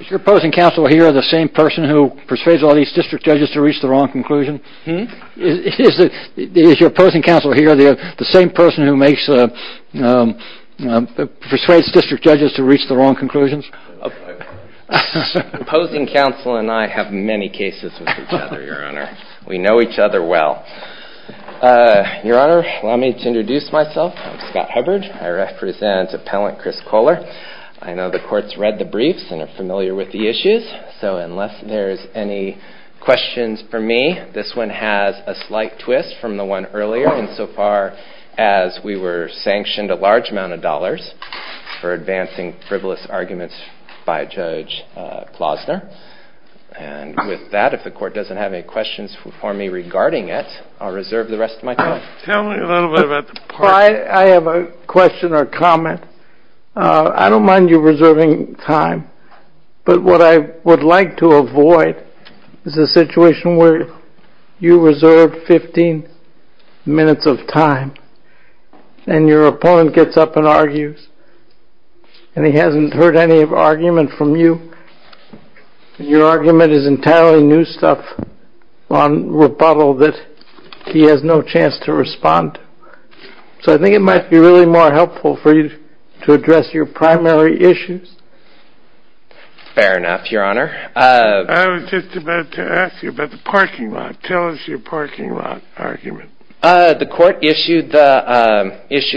Is your opposing counsel here the same person who persuades all these district judges to reach the wrong conclusions? Opposing counsel and I have many cases with each other, your honor. We know each other well. Your honor, allow me to introduce myself. I'm Scott Hubbard. I represent appellant Chris Kohler. I know the court's read the briefs and are familiar with the issues. So unless there's any questions for me, this one has a slight twist from the one earlier and so far as we were sanctioned a large amount of dollars for advancing frivolous arguments by Judge Plosner. And with that, if the court doesn't have any questions for me regarding it, I'll reserve the rest of my time. Tell me a little bit about the part. I have a question or comment. I don't mind you reserving time, but what I would like to avoid is a situation where you reserve 15 minutes of time and your opponent gets up and argues and he hasn't heard any argument from you. Your argument is entirely new stuff on rebuttal that he has no chance to respond. So I think it might be really more helpful for you to address your primary issues. Fair enough, your honor. I was just about to ask you about the parking lot. Tell us your parking lot argument. The court issued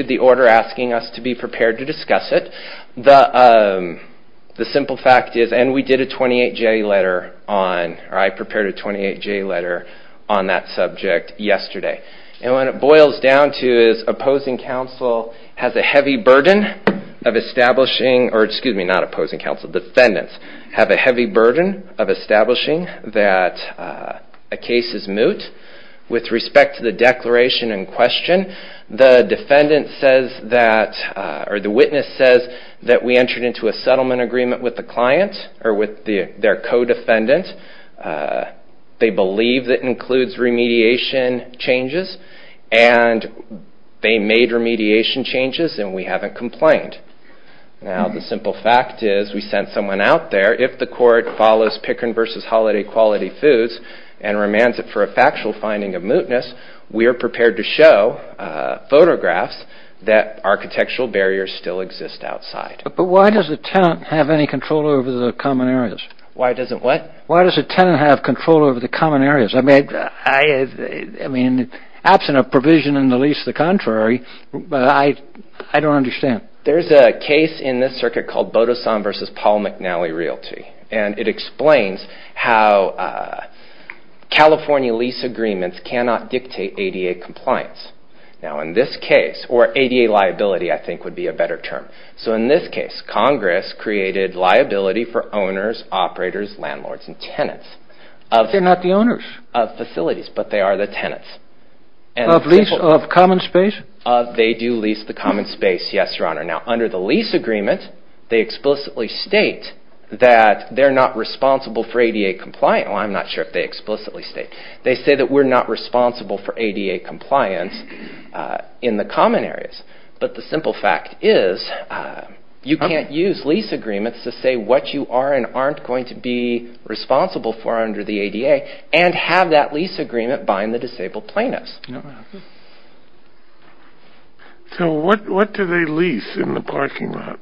the order asking us to be prepared to discuss it. The simple fact is, and we did a 28-J letter on, or I prepared a 28-J letter on that subject yesterday. And what it boils down to is opposing counsel has a heavy burden of establishing, or excuse me, not opposing counsel, defendants have a heavy burden of establishing that a case is moot. With respect to the declaration in question, the defendant says that, or the witness says that we entered into a settlement agreement with the client, or with their co-defendant. They believe that includes remediation changes. And they made remediation changes and we haven't complained. Now the simple fact is we sent someone out there. If the court follows Pickering v. Holiday Quality Foods and remands it for a factual finding of mootness, we are prepared to show photographs that architectural barriers still exist outside. But why does the tenant have any control over the common areas? Why doesn't what? Why does the tenant have control over the common areas? I mean, absent a provision in the lease to the contrary, I don't understand. There's a case in this circuit called Bodasan v. Paul McNally Realty. And it explains how California lease agreements cannot dictate ADA compliance. Now in this case, or ADA liability I think would be a better term. So in this case, Congress created liability for owners, operators, landlords, and tenants. They're not the owners. Of facilities, but they are the tenants. Of lease, of common space? They do lease the common space, yes, Your Honor. Now under the lease agreement, they explicitly state that they're not responsible for ADA compliance. Well, I'm not sure if they explicitly state. They say that we're not responsible for ADA compliance in the common areas. But the simple fact is you can't use lease agreements to say what you are and aren't going to be responsible for under the ADA and have that lease agreement bind the disabled plaintiffs. So what do they lease in the parking lot?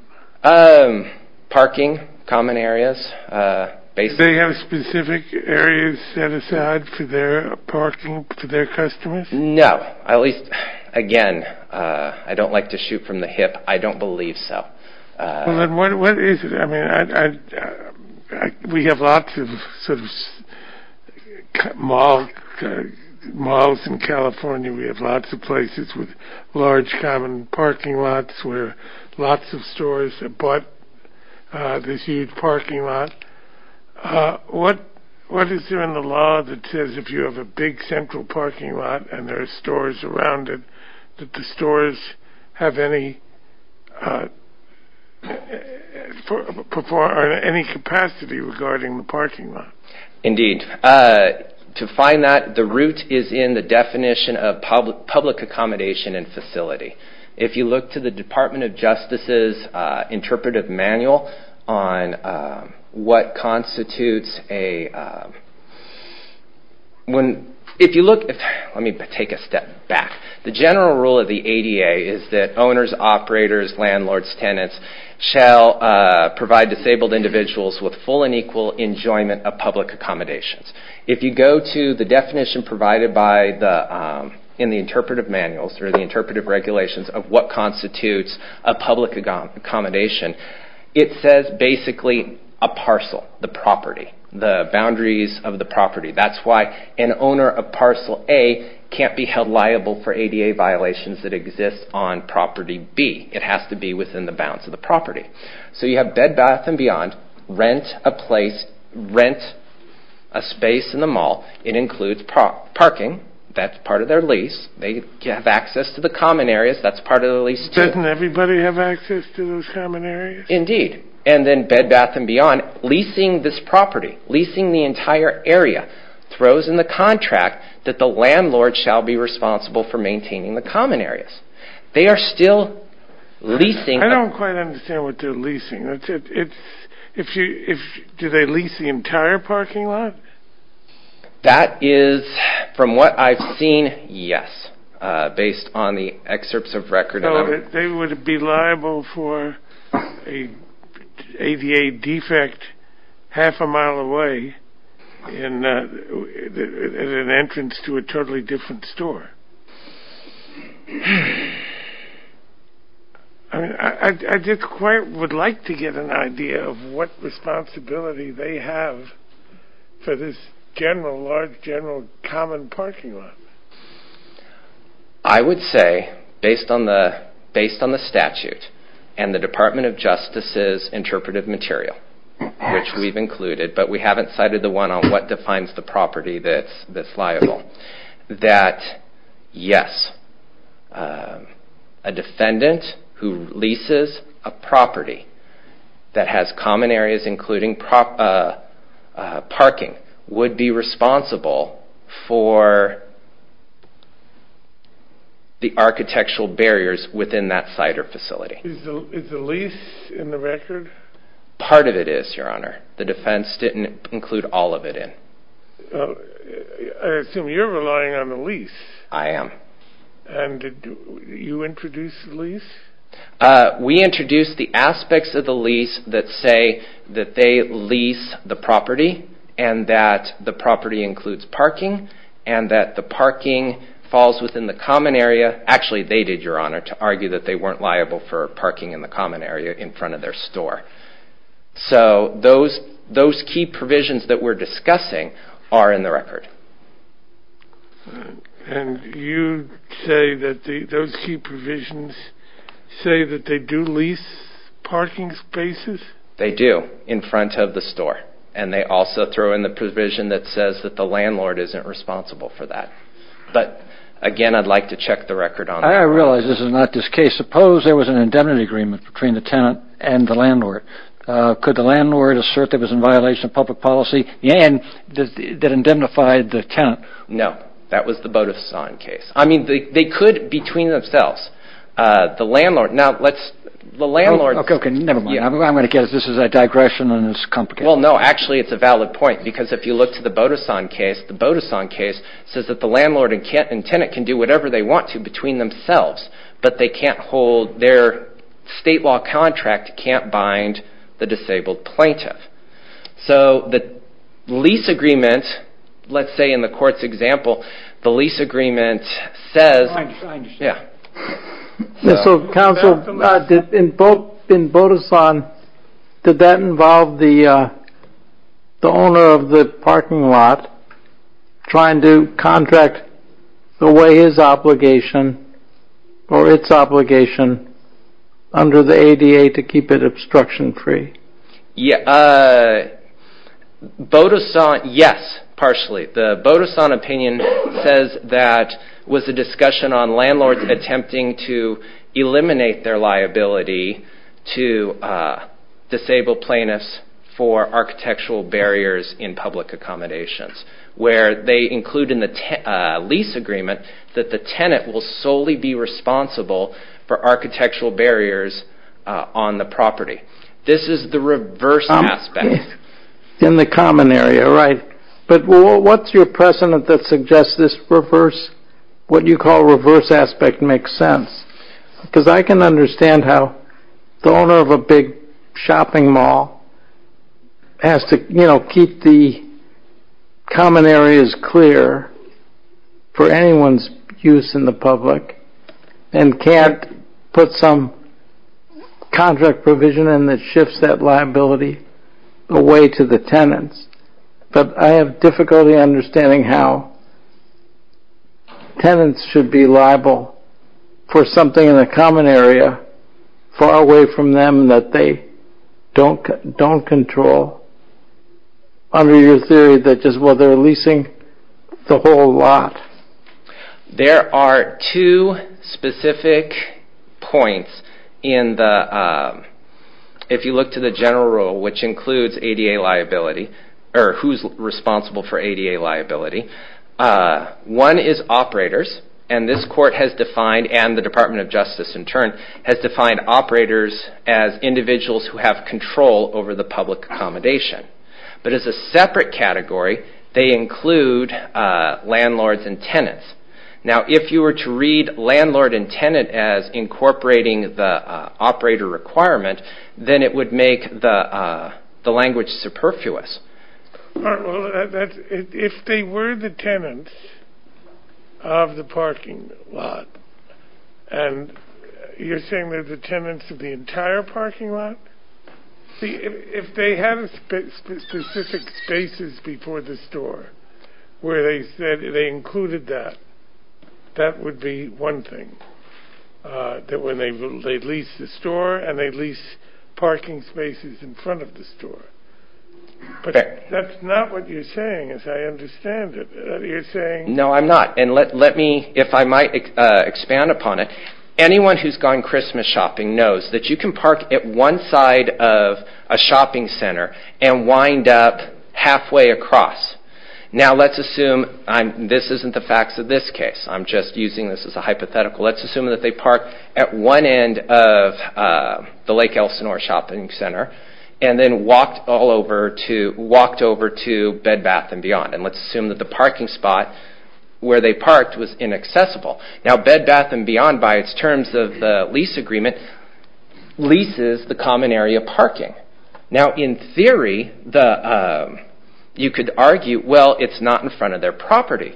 Parking, common areas. Do they have specific areas set aside for their parking for their customers? No. At least, again, I don't like to shoot from the hip. I don't believe so. Well then what is it? I mean, we have lots of sort of malls in California. We have lots of places with large common parking lots where lots of stores have bought this huge parking lot. What is there in the law that says if you have a big central parking lot and there are stores around it that the stores have any capacity regarding the parking lot? Indeed. To find that, the route is in the definition of public accommodation and facility. If you look to the Department of Justice's interpretive manual on what constitutes a Let me take a step back. The general rule of the ADA is that owners, operators, landlords, tenants shall provide disabled individuals with full and equal enjoyment of public accommodations. If you go to the definition provided in the interpretive manuals or the interpretive regulations of what constitutes a public accommodation, it says basically a parcel. The property. The boundaries of the property. That's why an owner of parcel A can't be held liable for ADA violations that exist on property B. It has to be within the bounds of the property. So you have bed, bath, and beyond. Rent a place. Rent a space in the mall. It includes parking. That's part of their lease. They have access to the common areas. That's part of the lease, too. Doesn't everybody have access to those common areas? Indeed. And then bed, bath, and beyond. Leasing this property. Leasing the entire area. Throws in the contract that the landlord shall be responsible for maintaining the common areas. They are still leasing. I don't quite understand what they're leasing. Do they lease the entire parking lot? That is, from what I've seen, yes. Based on the excerpts of record. They would be liable for an ADA defect half a mile away at an entrance to a totally different store. I just quite would like to get an idea of what responsibility they have for this large general common parking lot. I would say, based on the statute and the Department of Justice's interpretive material, which we've included, but we haven't cited the one on what defines the property that's liable, that, yes, a defendant who leases a property that has common areas, including parking, would be responsible for the architectural barriers within that site or facility. Is the lease in the record? Part of it is, Your Honor. The defense didn't include all of it in. I assume you're relying on the lease. I am. And did you introduce the lease? We introduced the aspects of the lease that say that they lease the property and that the property includes parking and that the parking falls within the common area. Actually, they did, Your Honor, to argue that they weren't liable for parking in the common area in front of their store. So those key provisions that we're discussing are in the record. And you say that those key provisions say that they do lease parking spaces? They do, in front of the store. And they also throw in the provision that says that the landlord isn't responsible for that. But, again, I'd like to check the record on that. I realize this is not the case. Suppose there was an indemnity agreement between the tenant and the landlord. Could the landlord assert that it was in violation of public policy and that it indemnified the tenant? No. That was the Bodasan case. I mean, they could, between themselves. The landlord… Okay, never mind. I'm going to guess this is a digression and it's complicated. Well, no, actually it's a valid point because if you look to the Bodasan case, the Bodasan case says that the landlord and tenant can do whatever they want to between themselves, but their state law contract can't bind the disabled plaintiff. So the lease agreement, let's say in the court's example, the lease agreement says… I understand. Yeah. So, counsel, in Bodasan, did that involve the owner of the parking lot trying to contract away his obligation or its obligation under the ADA to keep it obstruction-free? Yeah. Bodasan… Yes, partially. The Bodasan opinion says that it was a discussion on landlords attempting to eliminate their liability to disable plaintiffs for architectural barriers in public accommodations where they include in the lease agreement that the tenant will solely be responsible for architectural barriers on the property. This is the reverse aspect. In the common area, right. But what's your precedent that suggests this reverse, what you call reverse aspect makes sense? Because I can understand how the owner of a big shopping mall has to keep the common areas clear for anyone's use in the public and can't put some contract provision in that shifts that liability away to the tenants. But I have difficulty understanding how tenants should be liable for something in the common area far away from them that they don't control under your theory that just, well, they're leasing the whole lot. There are two specific points in the… or who's responsible for ADA liability. One is operators, and this court has defined, and the Department of Justice in turn has defined operators as individuals who have control over the public accommodation. But as a separate category, they include landlords and tenants. Now if you were to read landlord and tenant as incorporating the operator requirement, then it would make the language superfluous. Well, if they were the tenants of the parking lot and you're saying they're the tenants of the entire parking lot? If they have specific spaces before the store where they said they included that, that would be one thing, that when they lease the store and they lease parking spaces in front of the store. But that's not what you're saying as I understand it. No, I'm not. And let me, if I might expand upon it, anyone who's gone Christmas shopping knows that you can park at one side of a shopping center and wind up halfway across. Now let's assume this isn't the facts of this case. I'm just using this as a hypothetical. Let's assume that they parked at one end of the Lake Elsinore shopping center and then walked all over to, walked over to Bed Bath & Beyond. And let's assume that the parking spot where they parked was inaccessible. Now Bed Bath & Beyond, by its terms of the lease agreement, leases the common area parking. Now in theory, you could argue, well, it's not in front of their property.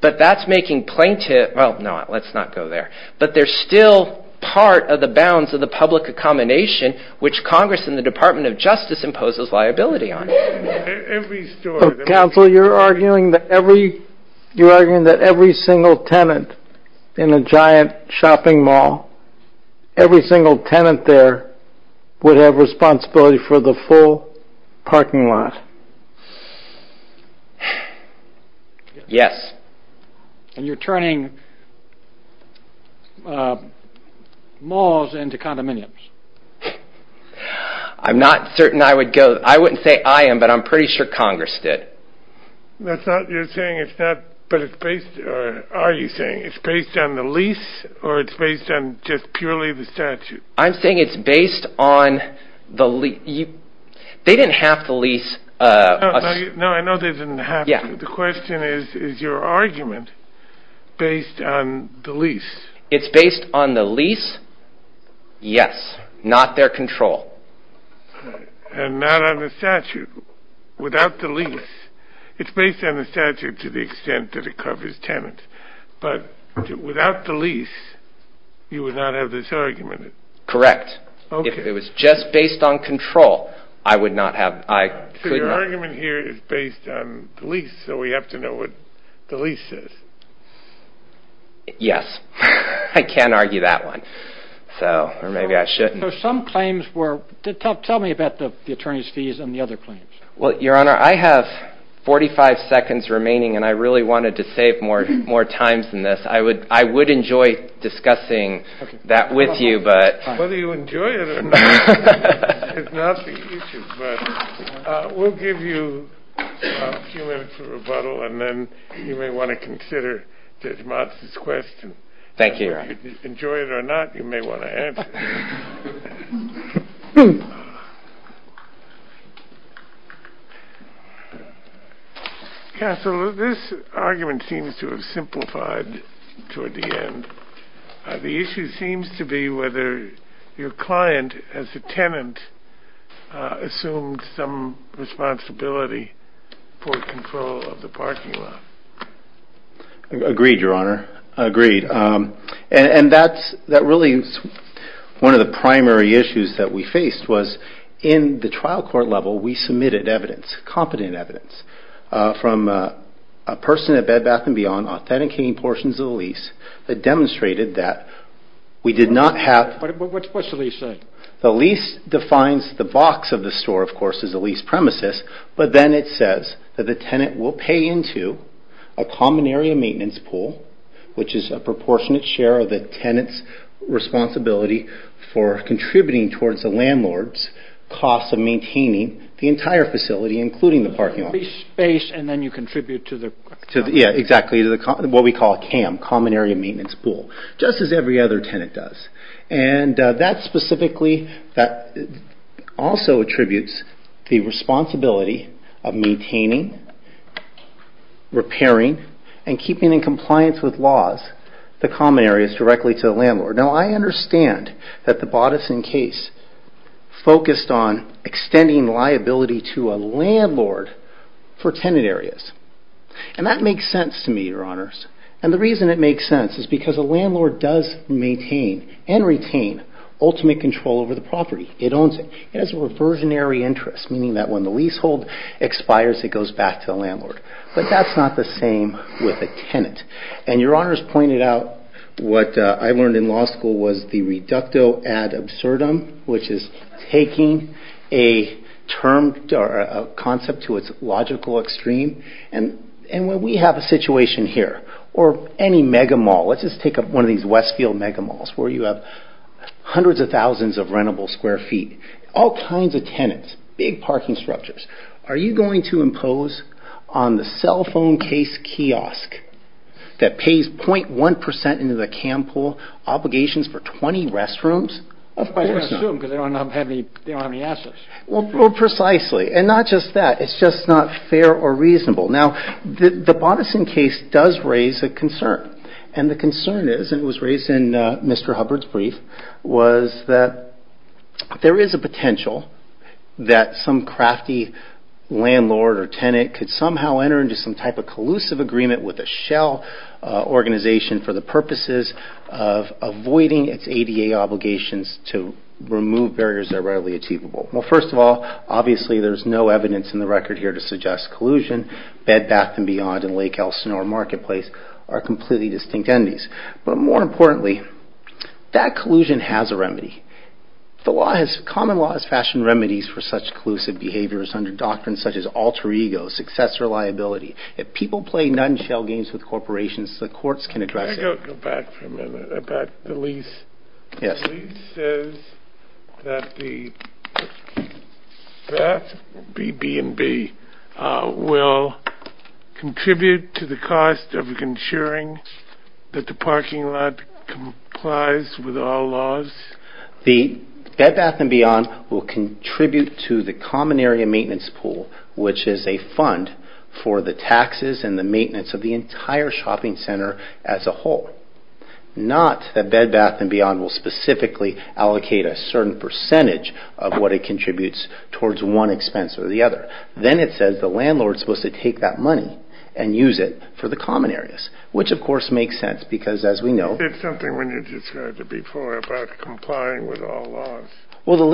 But that's making plaintiff, well, no, let's not go there. But they're still part of the bounds of the public accommodation which Congress and the Department of Justice imposes liability on. Every store. Counsel, you're arguing that every, you're arguing that every single tenant in a giant shopping mall, every single tenant there would have responsibility for the full parking lot. Yes. And you're turning malls into condominiums. I'm not certain I would go, I wouldn't say I am, but I'm pretty sure Congress did. That's not, you're saying it's not, but it's based, or are you saying it's based on the lease or it's based on just purely the statute? I'm saying it's based on the lease. They didn't have to lease us. No, I know they didn't have to. The question is, is your argument based on the lease? It's based on the lease, yes. Not their control. And not on the statute. Without the lease, it's based on the statute to the extent that it covers tenants. But without the lease, you would not have this argument. Correct. If it was just based on control, I would not have, I could not. So your argument here is based on the lease, so we have to know what the lease says. Yes. I can't argue that one. So, or maybe I shouldn't. So some claims were, tell me about the attorney's fees and the other claims. Well, Your Honor, I have 45 seconds remaining and I really wanted to save more time than this. I would enjoy discussing that with you, but. Whether you enjoy it or not is not the issue, but we'll give you a few minutes of rebuttal and then you may want to consider Judge Motz's question. Thank you, Your Honor. Whether you enjoy it or not, you may want to answer. Counselor, this argument seems to have simplified toward the end. The issue seems to be whether your client, as a tenant, assumed some responsibility for control of the parking lot. Agreed, Your Honor. Agreed. And that's, that really, one of the primary issues that we faced was in the trial court level, we submitted evidence, competent evidence from a person at Bed Bath & Beyond authenticating portions of the lease that demonstrated that we did not have. What's the lease say? The lease defines the box of the store, of course, as a lease premises, but then it says that the tenant will pay into a common area maintenance pool, which is a proportionate share of the tenant's responsibility for contributing towards the landlord's cost of maintaining the entire facility, including the parking lot. So you lease space and then you contribute to the common area? Yeah, exactly, to what we call a CAM, common area maintenance pool, just as every other tenant does. And that specifically, that also attributes the responsibility of maintaining, repairing, and keeping in compliance with laws, the common areas directly to the landlord. Now, I understand that the Bodicen case focused on extending liability to a landlord for tenant areas. And that makes sense to me, Your Honors. And the reason it makes sense is because a landlord does maintain and retain ultimate control over the property. It owns it. It has a reversionary interest, meaning that when the leasehold expires, it goes back to the landlord. But that's not the same with a tenant. And Your Honors pointed out what I learned in law school was the reducto ad absurdum, which is taking a concept to its logical extreme. And when we have a situation here, or any mega mall, let's just take one of these Westfield mega malls where you have hundreds of thousands of rentable square feet, all kinds of tenants, big parking structures. Are you going to impose on the cell phone case kiosk that pays 0.1% into the camp pool obligations for 20 restrooms? I would assume, because they don't have any assets. Well, precisely. And not just that. It's just not fair or reasonable. Now, the Bodicen case does raise a concern. And the concern is, and it was raised in Mr. Hubbard's brief, was that there is a potential that some crafty landlord or tenant could somehow enter into some type of collusive agreement with a shell organization for the purposes of avoiding its ADA obligations to remove barriers that are readily achievable. Well, first of all, obviously there's no evidence in the record here to suggest collusion. Bed, Bath & Beyond and Lake Elsinore Marketplace are completely distinct entities. But more importantly, that collusion has a remedy. Common law has fashioned remedies for such collusive behaviors under doctrines such as alter ego, success or liability. If people play nunchuck games with corporations, the courts can address it. Can I go back for a minute about the lease? Yes. The lease says that the Bath B&B will contribute to the cost of insuring that the parking lot complies with all laws. The Bed, Bath & Beyond will contribute to the common area maintenance pool, which is a fund for the taxes and the maintenance of the entire shopping center as a whole. Not that Bed, Bath & Beyond will specifically allocate a certain percentage of what it contributes towards one expense or the other. Then it says the landlord is supposed to take that money and use it for the common areas, which of course makes sense, because as we know... You did something when you described it before about complying with all laws. Well,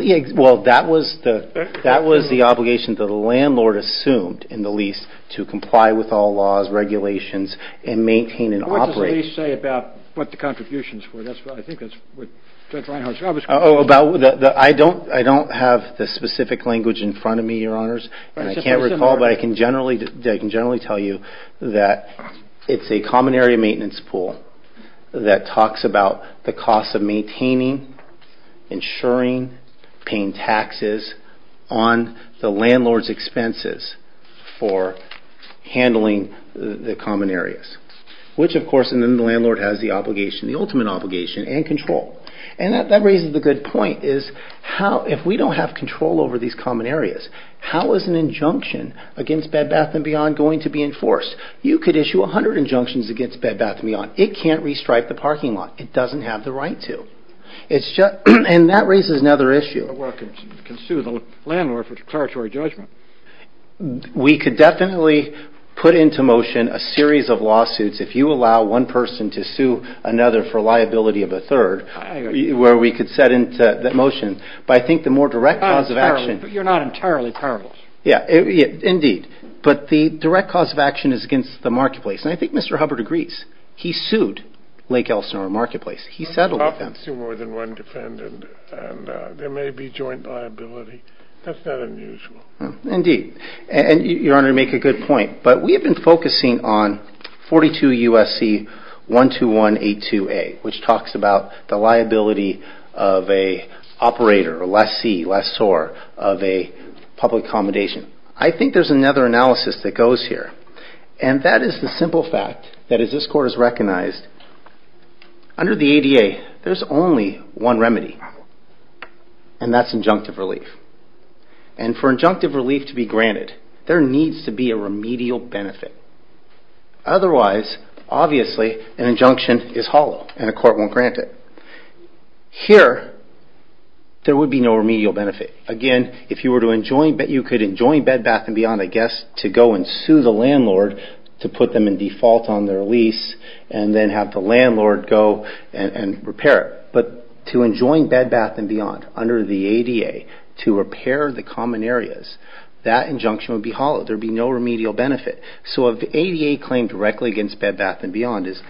that was the obligation that the landlord assumed in the lease to comply with all laws, regulations and maintain and operate... What does the lease say about what the contributions were? I think that's what Judge Reinhart's office... Oh, about... I don't have the specific language in front of me, Your Honors, and I can't recall, but I can generally tell you that it's a common area maintenance pool that talks about the cost of maintaining, insuring, paying taxes on the landlord's expenses for handling the common areas. Which, of course, the landlord has the ultimate obligation and control. That raises a good point. If we don't have control over these common areas, how is an injunction against Bed, Bath & Beyond going to be enforced? You could issue 100 injunctions against Bed, Bath & Beyond. It can't re-stripe the parking lot. It doesn't have the right to. And that raises another issue. Well, it can sue the landlord for declaratory judgment. We could definitely put into motion a series of lawsuits if you allow one person to sue another for liability of a third, where we could set into motion I think the more direct cause of action... But you're not entirely powerless. Indeed. But the direct cause of action is against the marketplace. And I think Mr. Hubbard agrees. He sued Lake Elsinore Marketplace. He settled with them. You can't sue more than one defendant and there may be joint liability. That's not unusual. Indeed. And you, Your Honor, make a good point. But we have been focusing on 42 U.S.C. 12182A, which talks about the liability of a operator or lessee, lessor, of a public accommodation. I think there's another analysis that goes here. And that is the simple fact that as this Court has recognized under the ADA there's only one remedy and that's injunctive relief. And for injunctive relief to be granted there needs to be a remedial benefit. Otherwise, obviously an injunction is hollow and a court won't grant it. Here, there would be no remedial benefit. Again, if you were to enjoy... enjoying Bed, Bath & Beyond I guess to go and sue the landlord to put them in default on their lease and then have the landlord go and repair it. But to enjoy Bed, Bath & Beyond under the ADA to repair the common areas that injunction would be hollow. There would be no remedial benefit. So if the ADA claimed directly against Bed, Bath & Beyond is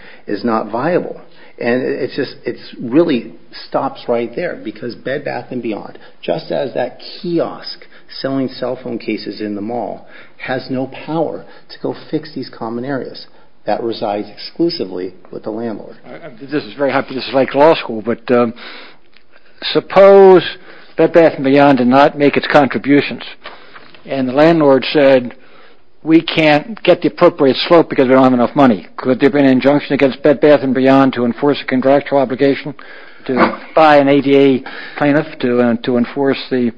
not viable and it really stops right there because Bed, Bath & Beyond just as that kiosk selling cell phone cases in the mall has no power to go fix these common areas that resides exclusively with the landlord. I'm very happy this is like law school but suppose Bed, Bath & Beyond did not make its contributions and the landlord said we can't get the appropriate slope because we don't have enough money. Could there be an injunction against Bed, Bath & Beyond to enforce a contractual obligation to buy an ADA plaintiff to enforce the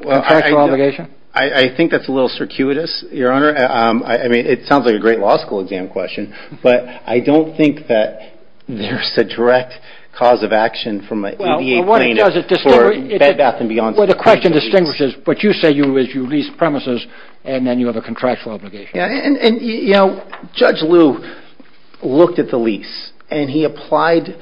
contractual obligation? I think that's a little circuitous Your Honor. It sounds like a great law school exam question but I don't think that there's a direct cause of action from an ADA plaintiff for Bed, Bath & Beyond. The question distinguishes what you say you lease premises and then you have a contractual obligation. And you know Judge Liu looked at the lease and he applied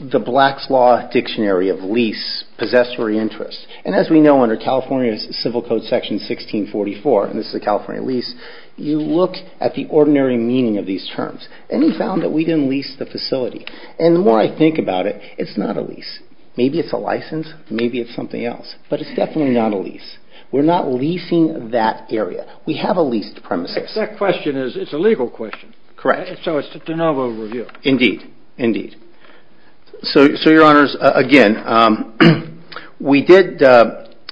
the Black's Law Dictionary of Lease Possessory Interest and as we know under California Civil Code Section 1644 and this is a California lease you look at the ordinary meaning of these terms and he found that we didn't lease the facility and the more I think about it it's not a lease maybe it's a license maybe it's something else but it's definitely not a lease we're not leasing that area we have a lease to premises That question is a legal question Correct So it's de novo review Indeed Indeed So Your Honors Again We did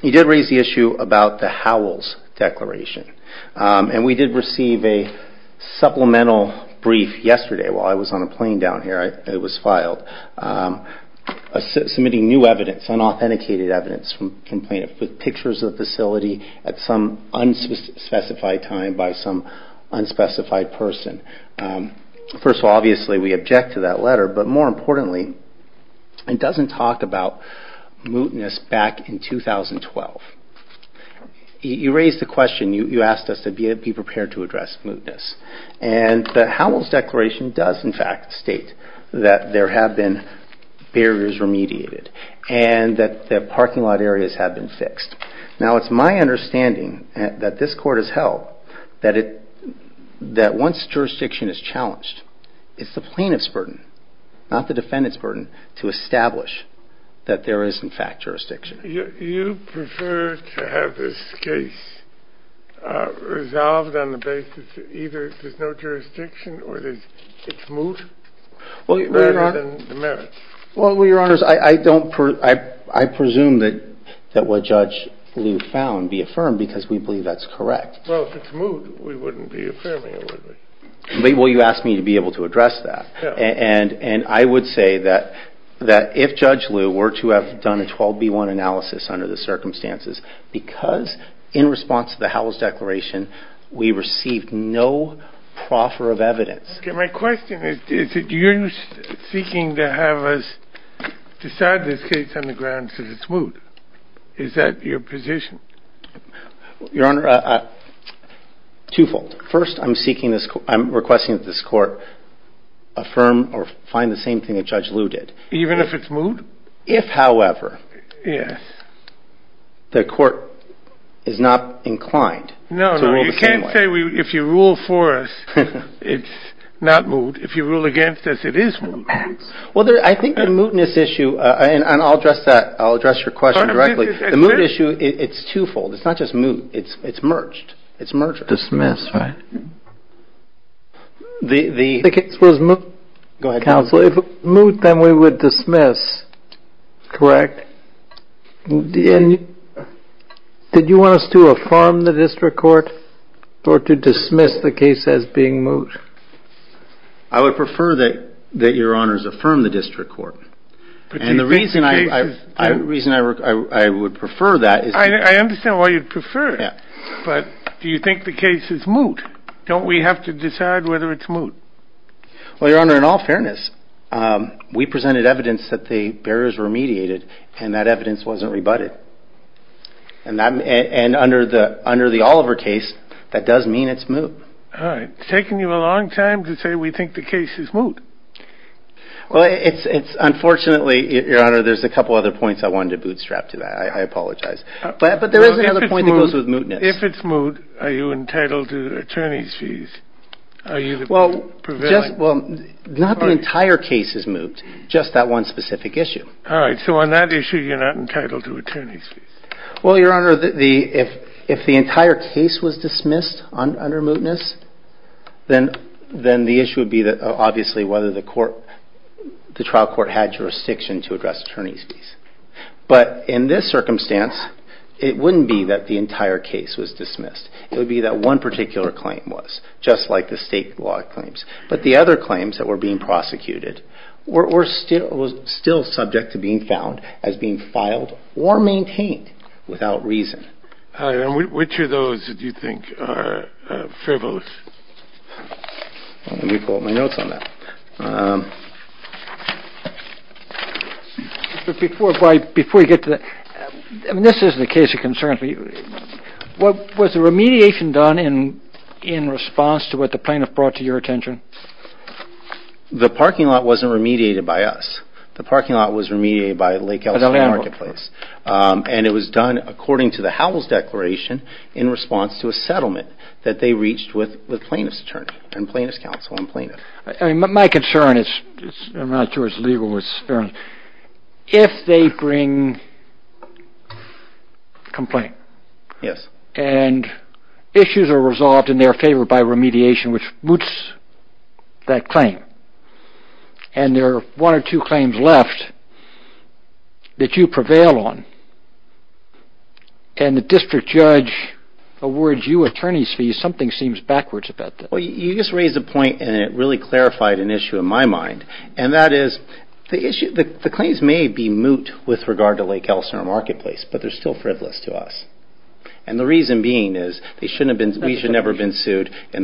He did raise the issue about the Howells Declaration And we did receive a supplemental brief yesterday while I was on a plane down here it was filed Submitting new evidence unauthenticated evidence from complainant with pictures of the facility at some unspecified time by some unspecified person First of all obviously we object to that letter but more importantly it doesn't talk about mootness back in 2012 You raised the question you asked us to be prepared to address mootness and the Howells Declaration does in fact state that there have been barriers remediated and that parking lot areas have been fixed Now it's my understanding that this court has held that it that once jurisdiction is challenged it's the plaintiff's burden not the defendant's burden to establish that there is in fact jurisdiction You prefer to have this case resolved on the basis that either there's no jurisdiction or there's it's moot rather than demerit Well your honors I don't I presume that what Judge Liu found be affirmed because we believe that's correct Well if it's moot we wouldn't be and I would say that if Judge Liu were to have done a 12B1 analysis under the circumstances because in response to the Howells Declaration we received no proffer of evidence My question is that you're seeking to have us decide this case on the grounds that it's moot Is that your position? Your honor Two fold First I'm seeking I'm requesting that this court affirm or find the same thing that Judge Liu did Even if it's moot? If however Yes the court is not inclined to rule the same way No you can't say if you rule for us it's not moot if you rule against us it is moot Well I think the mootness issue and I'll address that I'll address your question directly The moot issue it's two fold it's not just moot it's merged It's merged Dismissed Go ahead The case was moot Counsel If it was moot then we would dismiss Correct Did you want us to affirm the district court or to dismiss the case as being moot I would prefer that your honors affirm the district court And the reason I would prefer that I understand why you would prefer it But Do you think the case is moot Don't we have to decide whether it's moot Well your honor in all fairness we presented evidence that the barriers were mediated and that evidence wasn't rebutted and under the Oliver case that does mean it's moot Alright It's taken you a long time to say we think the case is moot Well it's unfortunately your honor there's a couple other points I wanted to Well if the case is moot are you entitled to attorney's fees Well not the entire case is moot just that one specific issue Alright so on that issue you're not entitled to attorney's fees Well your honor if the entire case was dismissed under mootness then the issue would be obviously whether the trial court had jurisdiction to address attorney's fees but in this circumstance it wouldn't be that the entire case was dismissed it would be that one particular claim was just like the state law claims but the other claims that were being prosecuted were still subject to being found as being filed or maintained without reason Alright and which of those do you think are frivolous let me pull up my notes on that but before before you get to this is the case of concern was the remediation done in response to what the plaintiff brought to your attention the parking lot wasn't remediated by us the parking lot was remediated by Lake Ellison marketplace and it was done according to the Howells declaration in response to a settlement that they reached with plaintiff's attorney and plaintiff's counsel and plaintiff My concern is if they bring complaint and issues are resolved in their favor by remediation which boots that claim and there are one or two claims left that you prevail on and the district judge awards you attorney's fees something seems backwards about that you just raised a point and it really clarified an issue in my mind and that is the claims may be moot with regard to Lake Ellison or marketplace but they are still frivolous to us and the reason being is we should never have been asserted against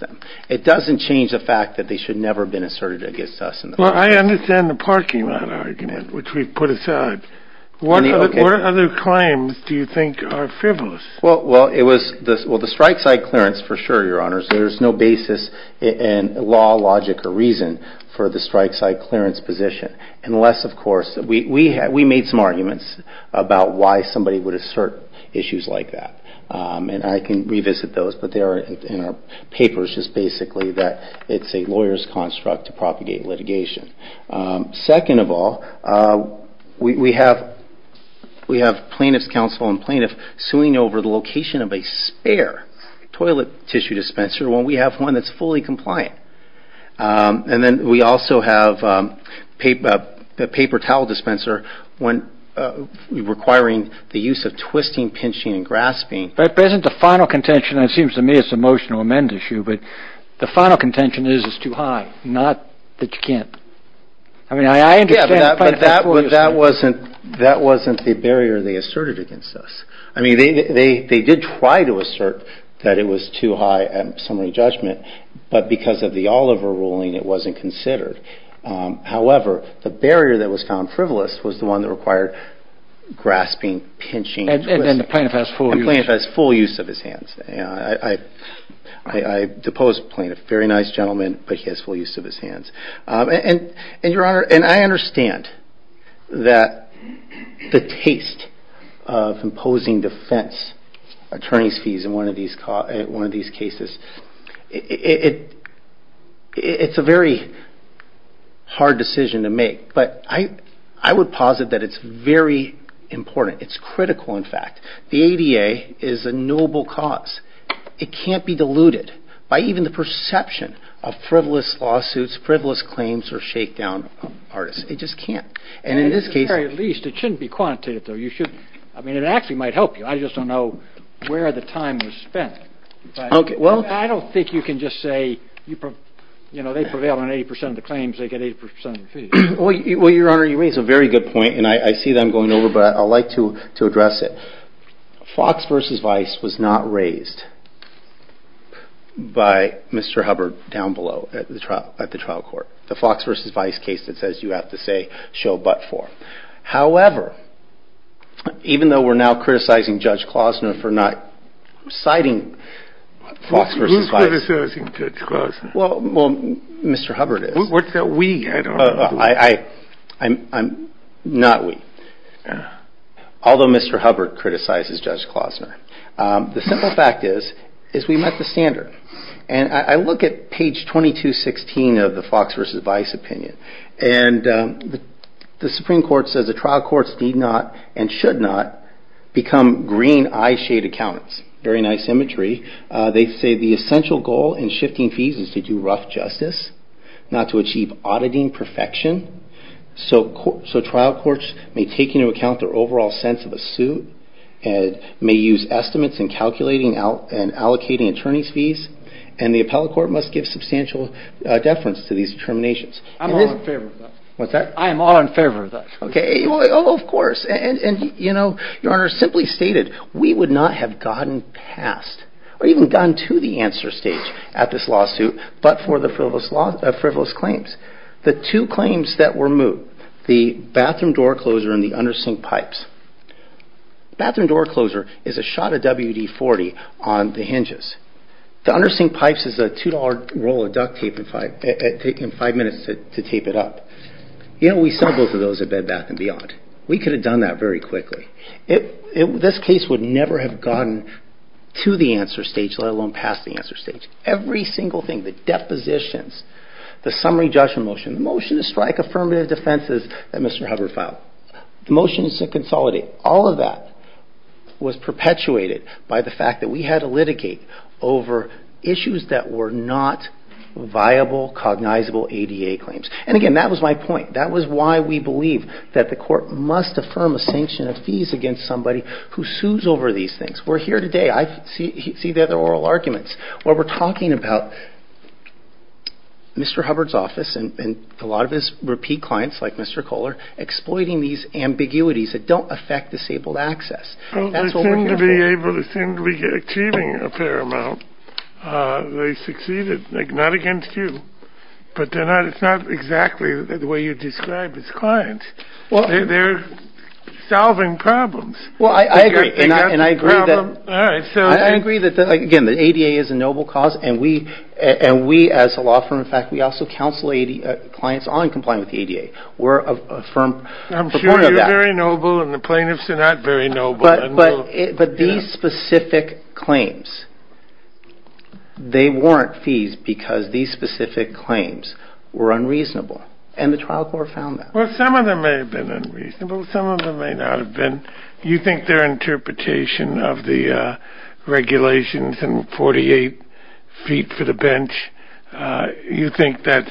them it doesn't change the fact that they should never have been asserted against us I understand the parking lot argument which we put aside what other claims do you think are frivolous the strike site clearance for sure there is no basis in law logic or reason for the strike site there are some arguments about why somebody would assert issues like that and I can revisit those but they are in our papers basically that it is a lawyer's construct to propagate litigation second of all we have plaintiff's counsel and plaintiff suing over the location of a spare toilet tissue we have one that is fully compliant we also have a paper towel dispenser requiring the use of twisting pinching and grasping the final contention is too high not that you can't that wasn't the barrier they asserted against us they did try to assert that it was too high at summary judgment but because of the Oliver ruling it wasn't considered however the barrier that was found frivolous was the one that required grasping pinching and plaintiff has full use of his hands I depose plaintiff very nice gentleman but he has full use of his hands and I understand that the taste of imposing defense attorney's fees in one of these cases it it's a very hard decision to make but I would posit that it's very important it's critical in fact the ADA is a noble cause it can't be diluted by even the perception of frivolous lawsuits frivolous claims it just can't at least it shouldn't be quantitative it actually might help you I just don't know where the time was spent I don't think you can just say they prevail on 80% of the claims they get 80% of the fees you raise a very important issue I'm going over but I'd like to address it Fox vs. Vice was not raised by Mr. Hubbard down below at the trial court Vice case that says you have to say show but for however even though we're now criticizing Judge Klausner for not citing Fox vs. Vice case although Mr. Hubbard criticizes Judge Klausner the simple fact is we met the standard I look at page 2216 of the Fox vs. Vice opinion and the Supreme Court says the trial courts need not and should not become green eye-shaded accountants very nice imagery they say the essential goal in shifting fees is to do rough justice not to achieve auditing perfection so trial courts may take into account the overall sense of a suit and may use estimates in calculating and allocating attorney's fees and the appellate court must give substantial deference to these determinations I'm all in favor of that of course and you know your honor simply stated we would not have gotten past or even gotten to the answer stage at this lawsuit but for the frivolous claims the two claims that were moved the bathroom door closure and the under sink pipes bathroom we could have done that very quickly this case would never have gotten to the answer stage let alone past the answer stage every single thing the depositions the summary judgment motion the motion to strike affirmative defenses that Mr. Hubbard filed the motions to consolidate all of that was perpetuated by the fact that we had to litigate over issues that were not viable cognizable ADA claims and again that was my point that was why we believe that the court must affirm a sanction of fees against somebody who sues over these things we're here today I see the other oral arguments where we're talking about Mr. Hubbard's office and a lot of his repeat clients like Mr. Kohler exploiting these ambiguities that don't affect disabled access they seem to be achieving a fair amount they succeeded not against you but it's not exactly the way you describe these clients they're solving problems I agree and I agree that ADA is a noble cause and we as a law firm we also counsel clients on complying with the ADA we're a firm I'm sure you're very noble and the plaintiffs are not very noble but these specific claims they warrant fees because these specific claims were unreasonable and the trial court found that some of them may have been unreasonable some of them may not have been you think their interpretation of the regulations and 48 feet for the bench you think that's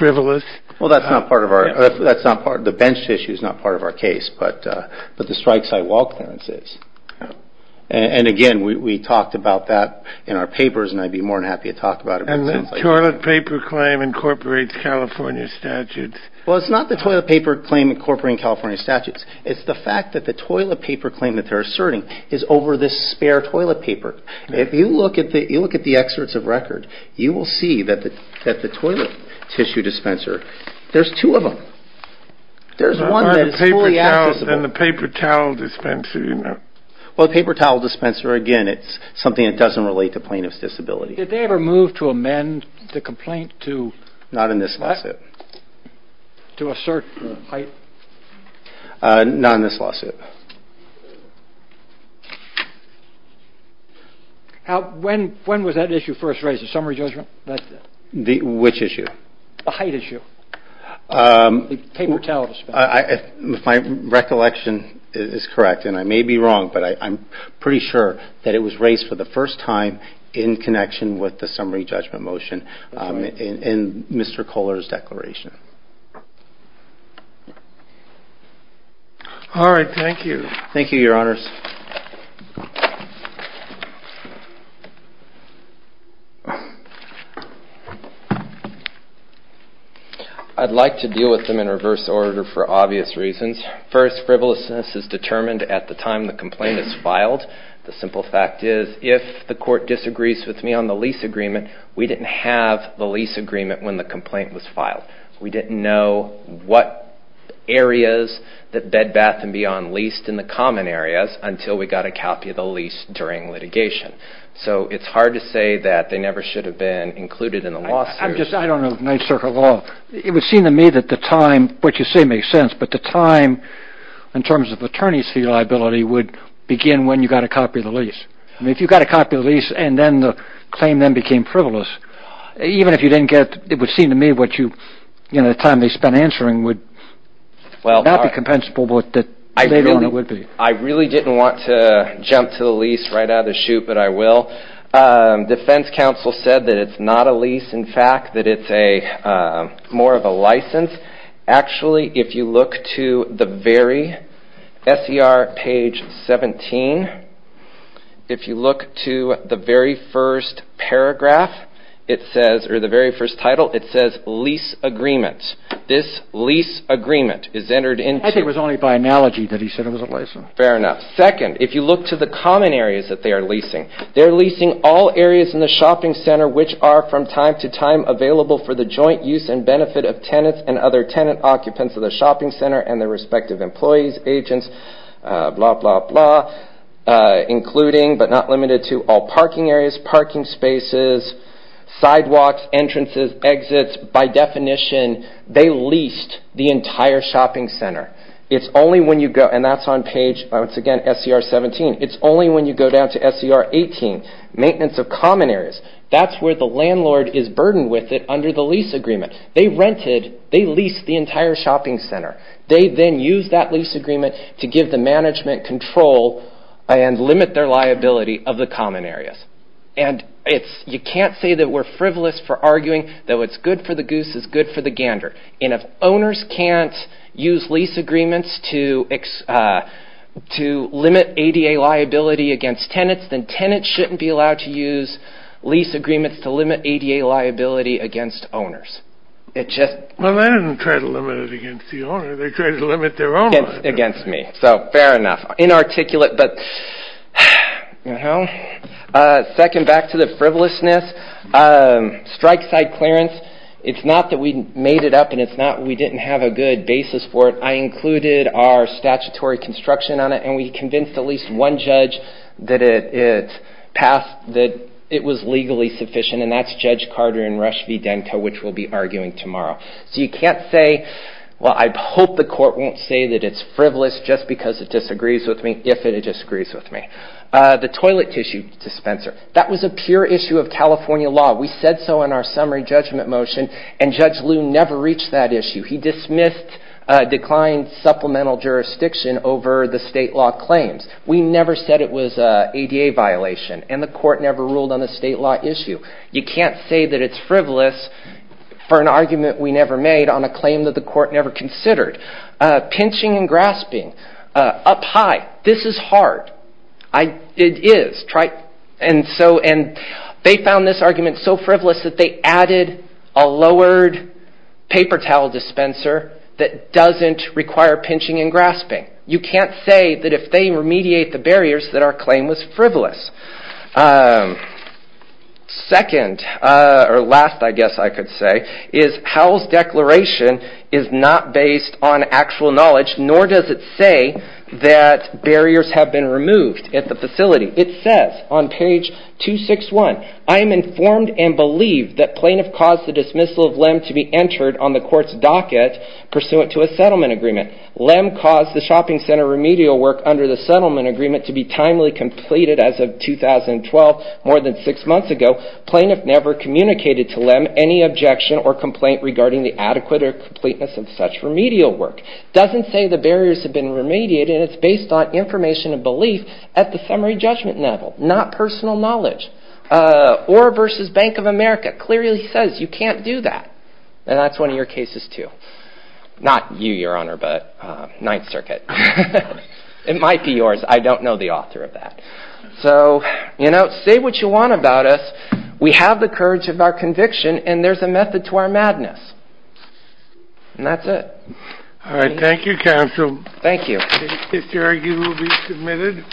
marvelous well that's not part of our that's not part of the bench tissue is not part of our case but the strike side wall clearance is and again we talked about that in our papers and I'd be more than happy to talk about it and the toilet paper claim incorporates California statutes well it's not the toilet paper claim incorporating California statutes it's the fact that the toilet paper claim that they're asserting is over this spare toilet paper if you look at the excerpts of record you will see that the toilet tissue dispenser there's two of them there's one that is not in this lawsuit when was that issue first raised the summary judgment the which issue the height issue the paper towel dispenser my recollection is correct and I may be wrong but I'm pretty sure that it was raised for the first time in connection with the summary judgment motion in Mr. Kohler's declaration alright thank you thank you your honors I'd like to deal with them in reverse order for obvious reasons first frivolousness is determined at the time the complaint is filed the simple fact is if the court disagrees with me on the lease agreement we didn't have the lease agreement when the complaint was filed we didn't know what areas that Bed Bath & Beyond leased in the common areas until we got a copy of the lease during litigation so it's hard to say that they never should have been included in the lawsuit I don't know if I really didn't want to jump to the lease right out of the chute but I will defense counsel said that it's not a lease in fact that it's a more of a license actually if you look to the very SER page 17 if you look to the very first paragraph it says or the very first title it says lease agreement this lease agreement is entered in I think it was only by analogy that he said it was a license fair enough second if you look to the common areas that they are leasing all areas in the shopping center which are from time to time available for the joint use and benefit of tenants and their respective employees business agents blah blah blah including but not limited to all parking areas parking spaces sidewalks entrances exits by definition they leased the entire shopping center it's only when you go maintenance of common areas that's where the landlord is burdened with it under the lease agreement they rented they leased the entire shopping center they then used that lease agreement to limit their liability of the common areas and it's you can't say that we're frivolous for arguing that what's good for the goose is good for the gander and if owners can't use lease agreements to limit ADA liability against tenants then tenants shouldn't be allowed to use lease agreements to limit ADA liability against owners it just against me so fair enough inarticulate but second back to the frivolousness strike side clearance it's not that we made it up and it's not we didn't have a good basis for it I hope the court won't say it's frivolous just because it disagrees with me the toilet tissue dispenser that was a pure issue of California law we said so in on a claim that the court never considered pinching and grasping up high this is hard it is they found this argument so frivolous that they added a lowered it is not based on actual knowledge nor does it say that barriers have been removed at the facility it says on page 261 I am informed and believe that as of 2012 more than six months ago never communicated to them any objection or complaint regarding the adequate remedial work it is based on information and belief not personal knowledge or so you know say what you want about us we have the courage of our conviction and there's a method to our madness and that's it alright thank you counsel thank you this argument will be submitted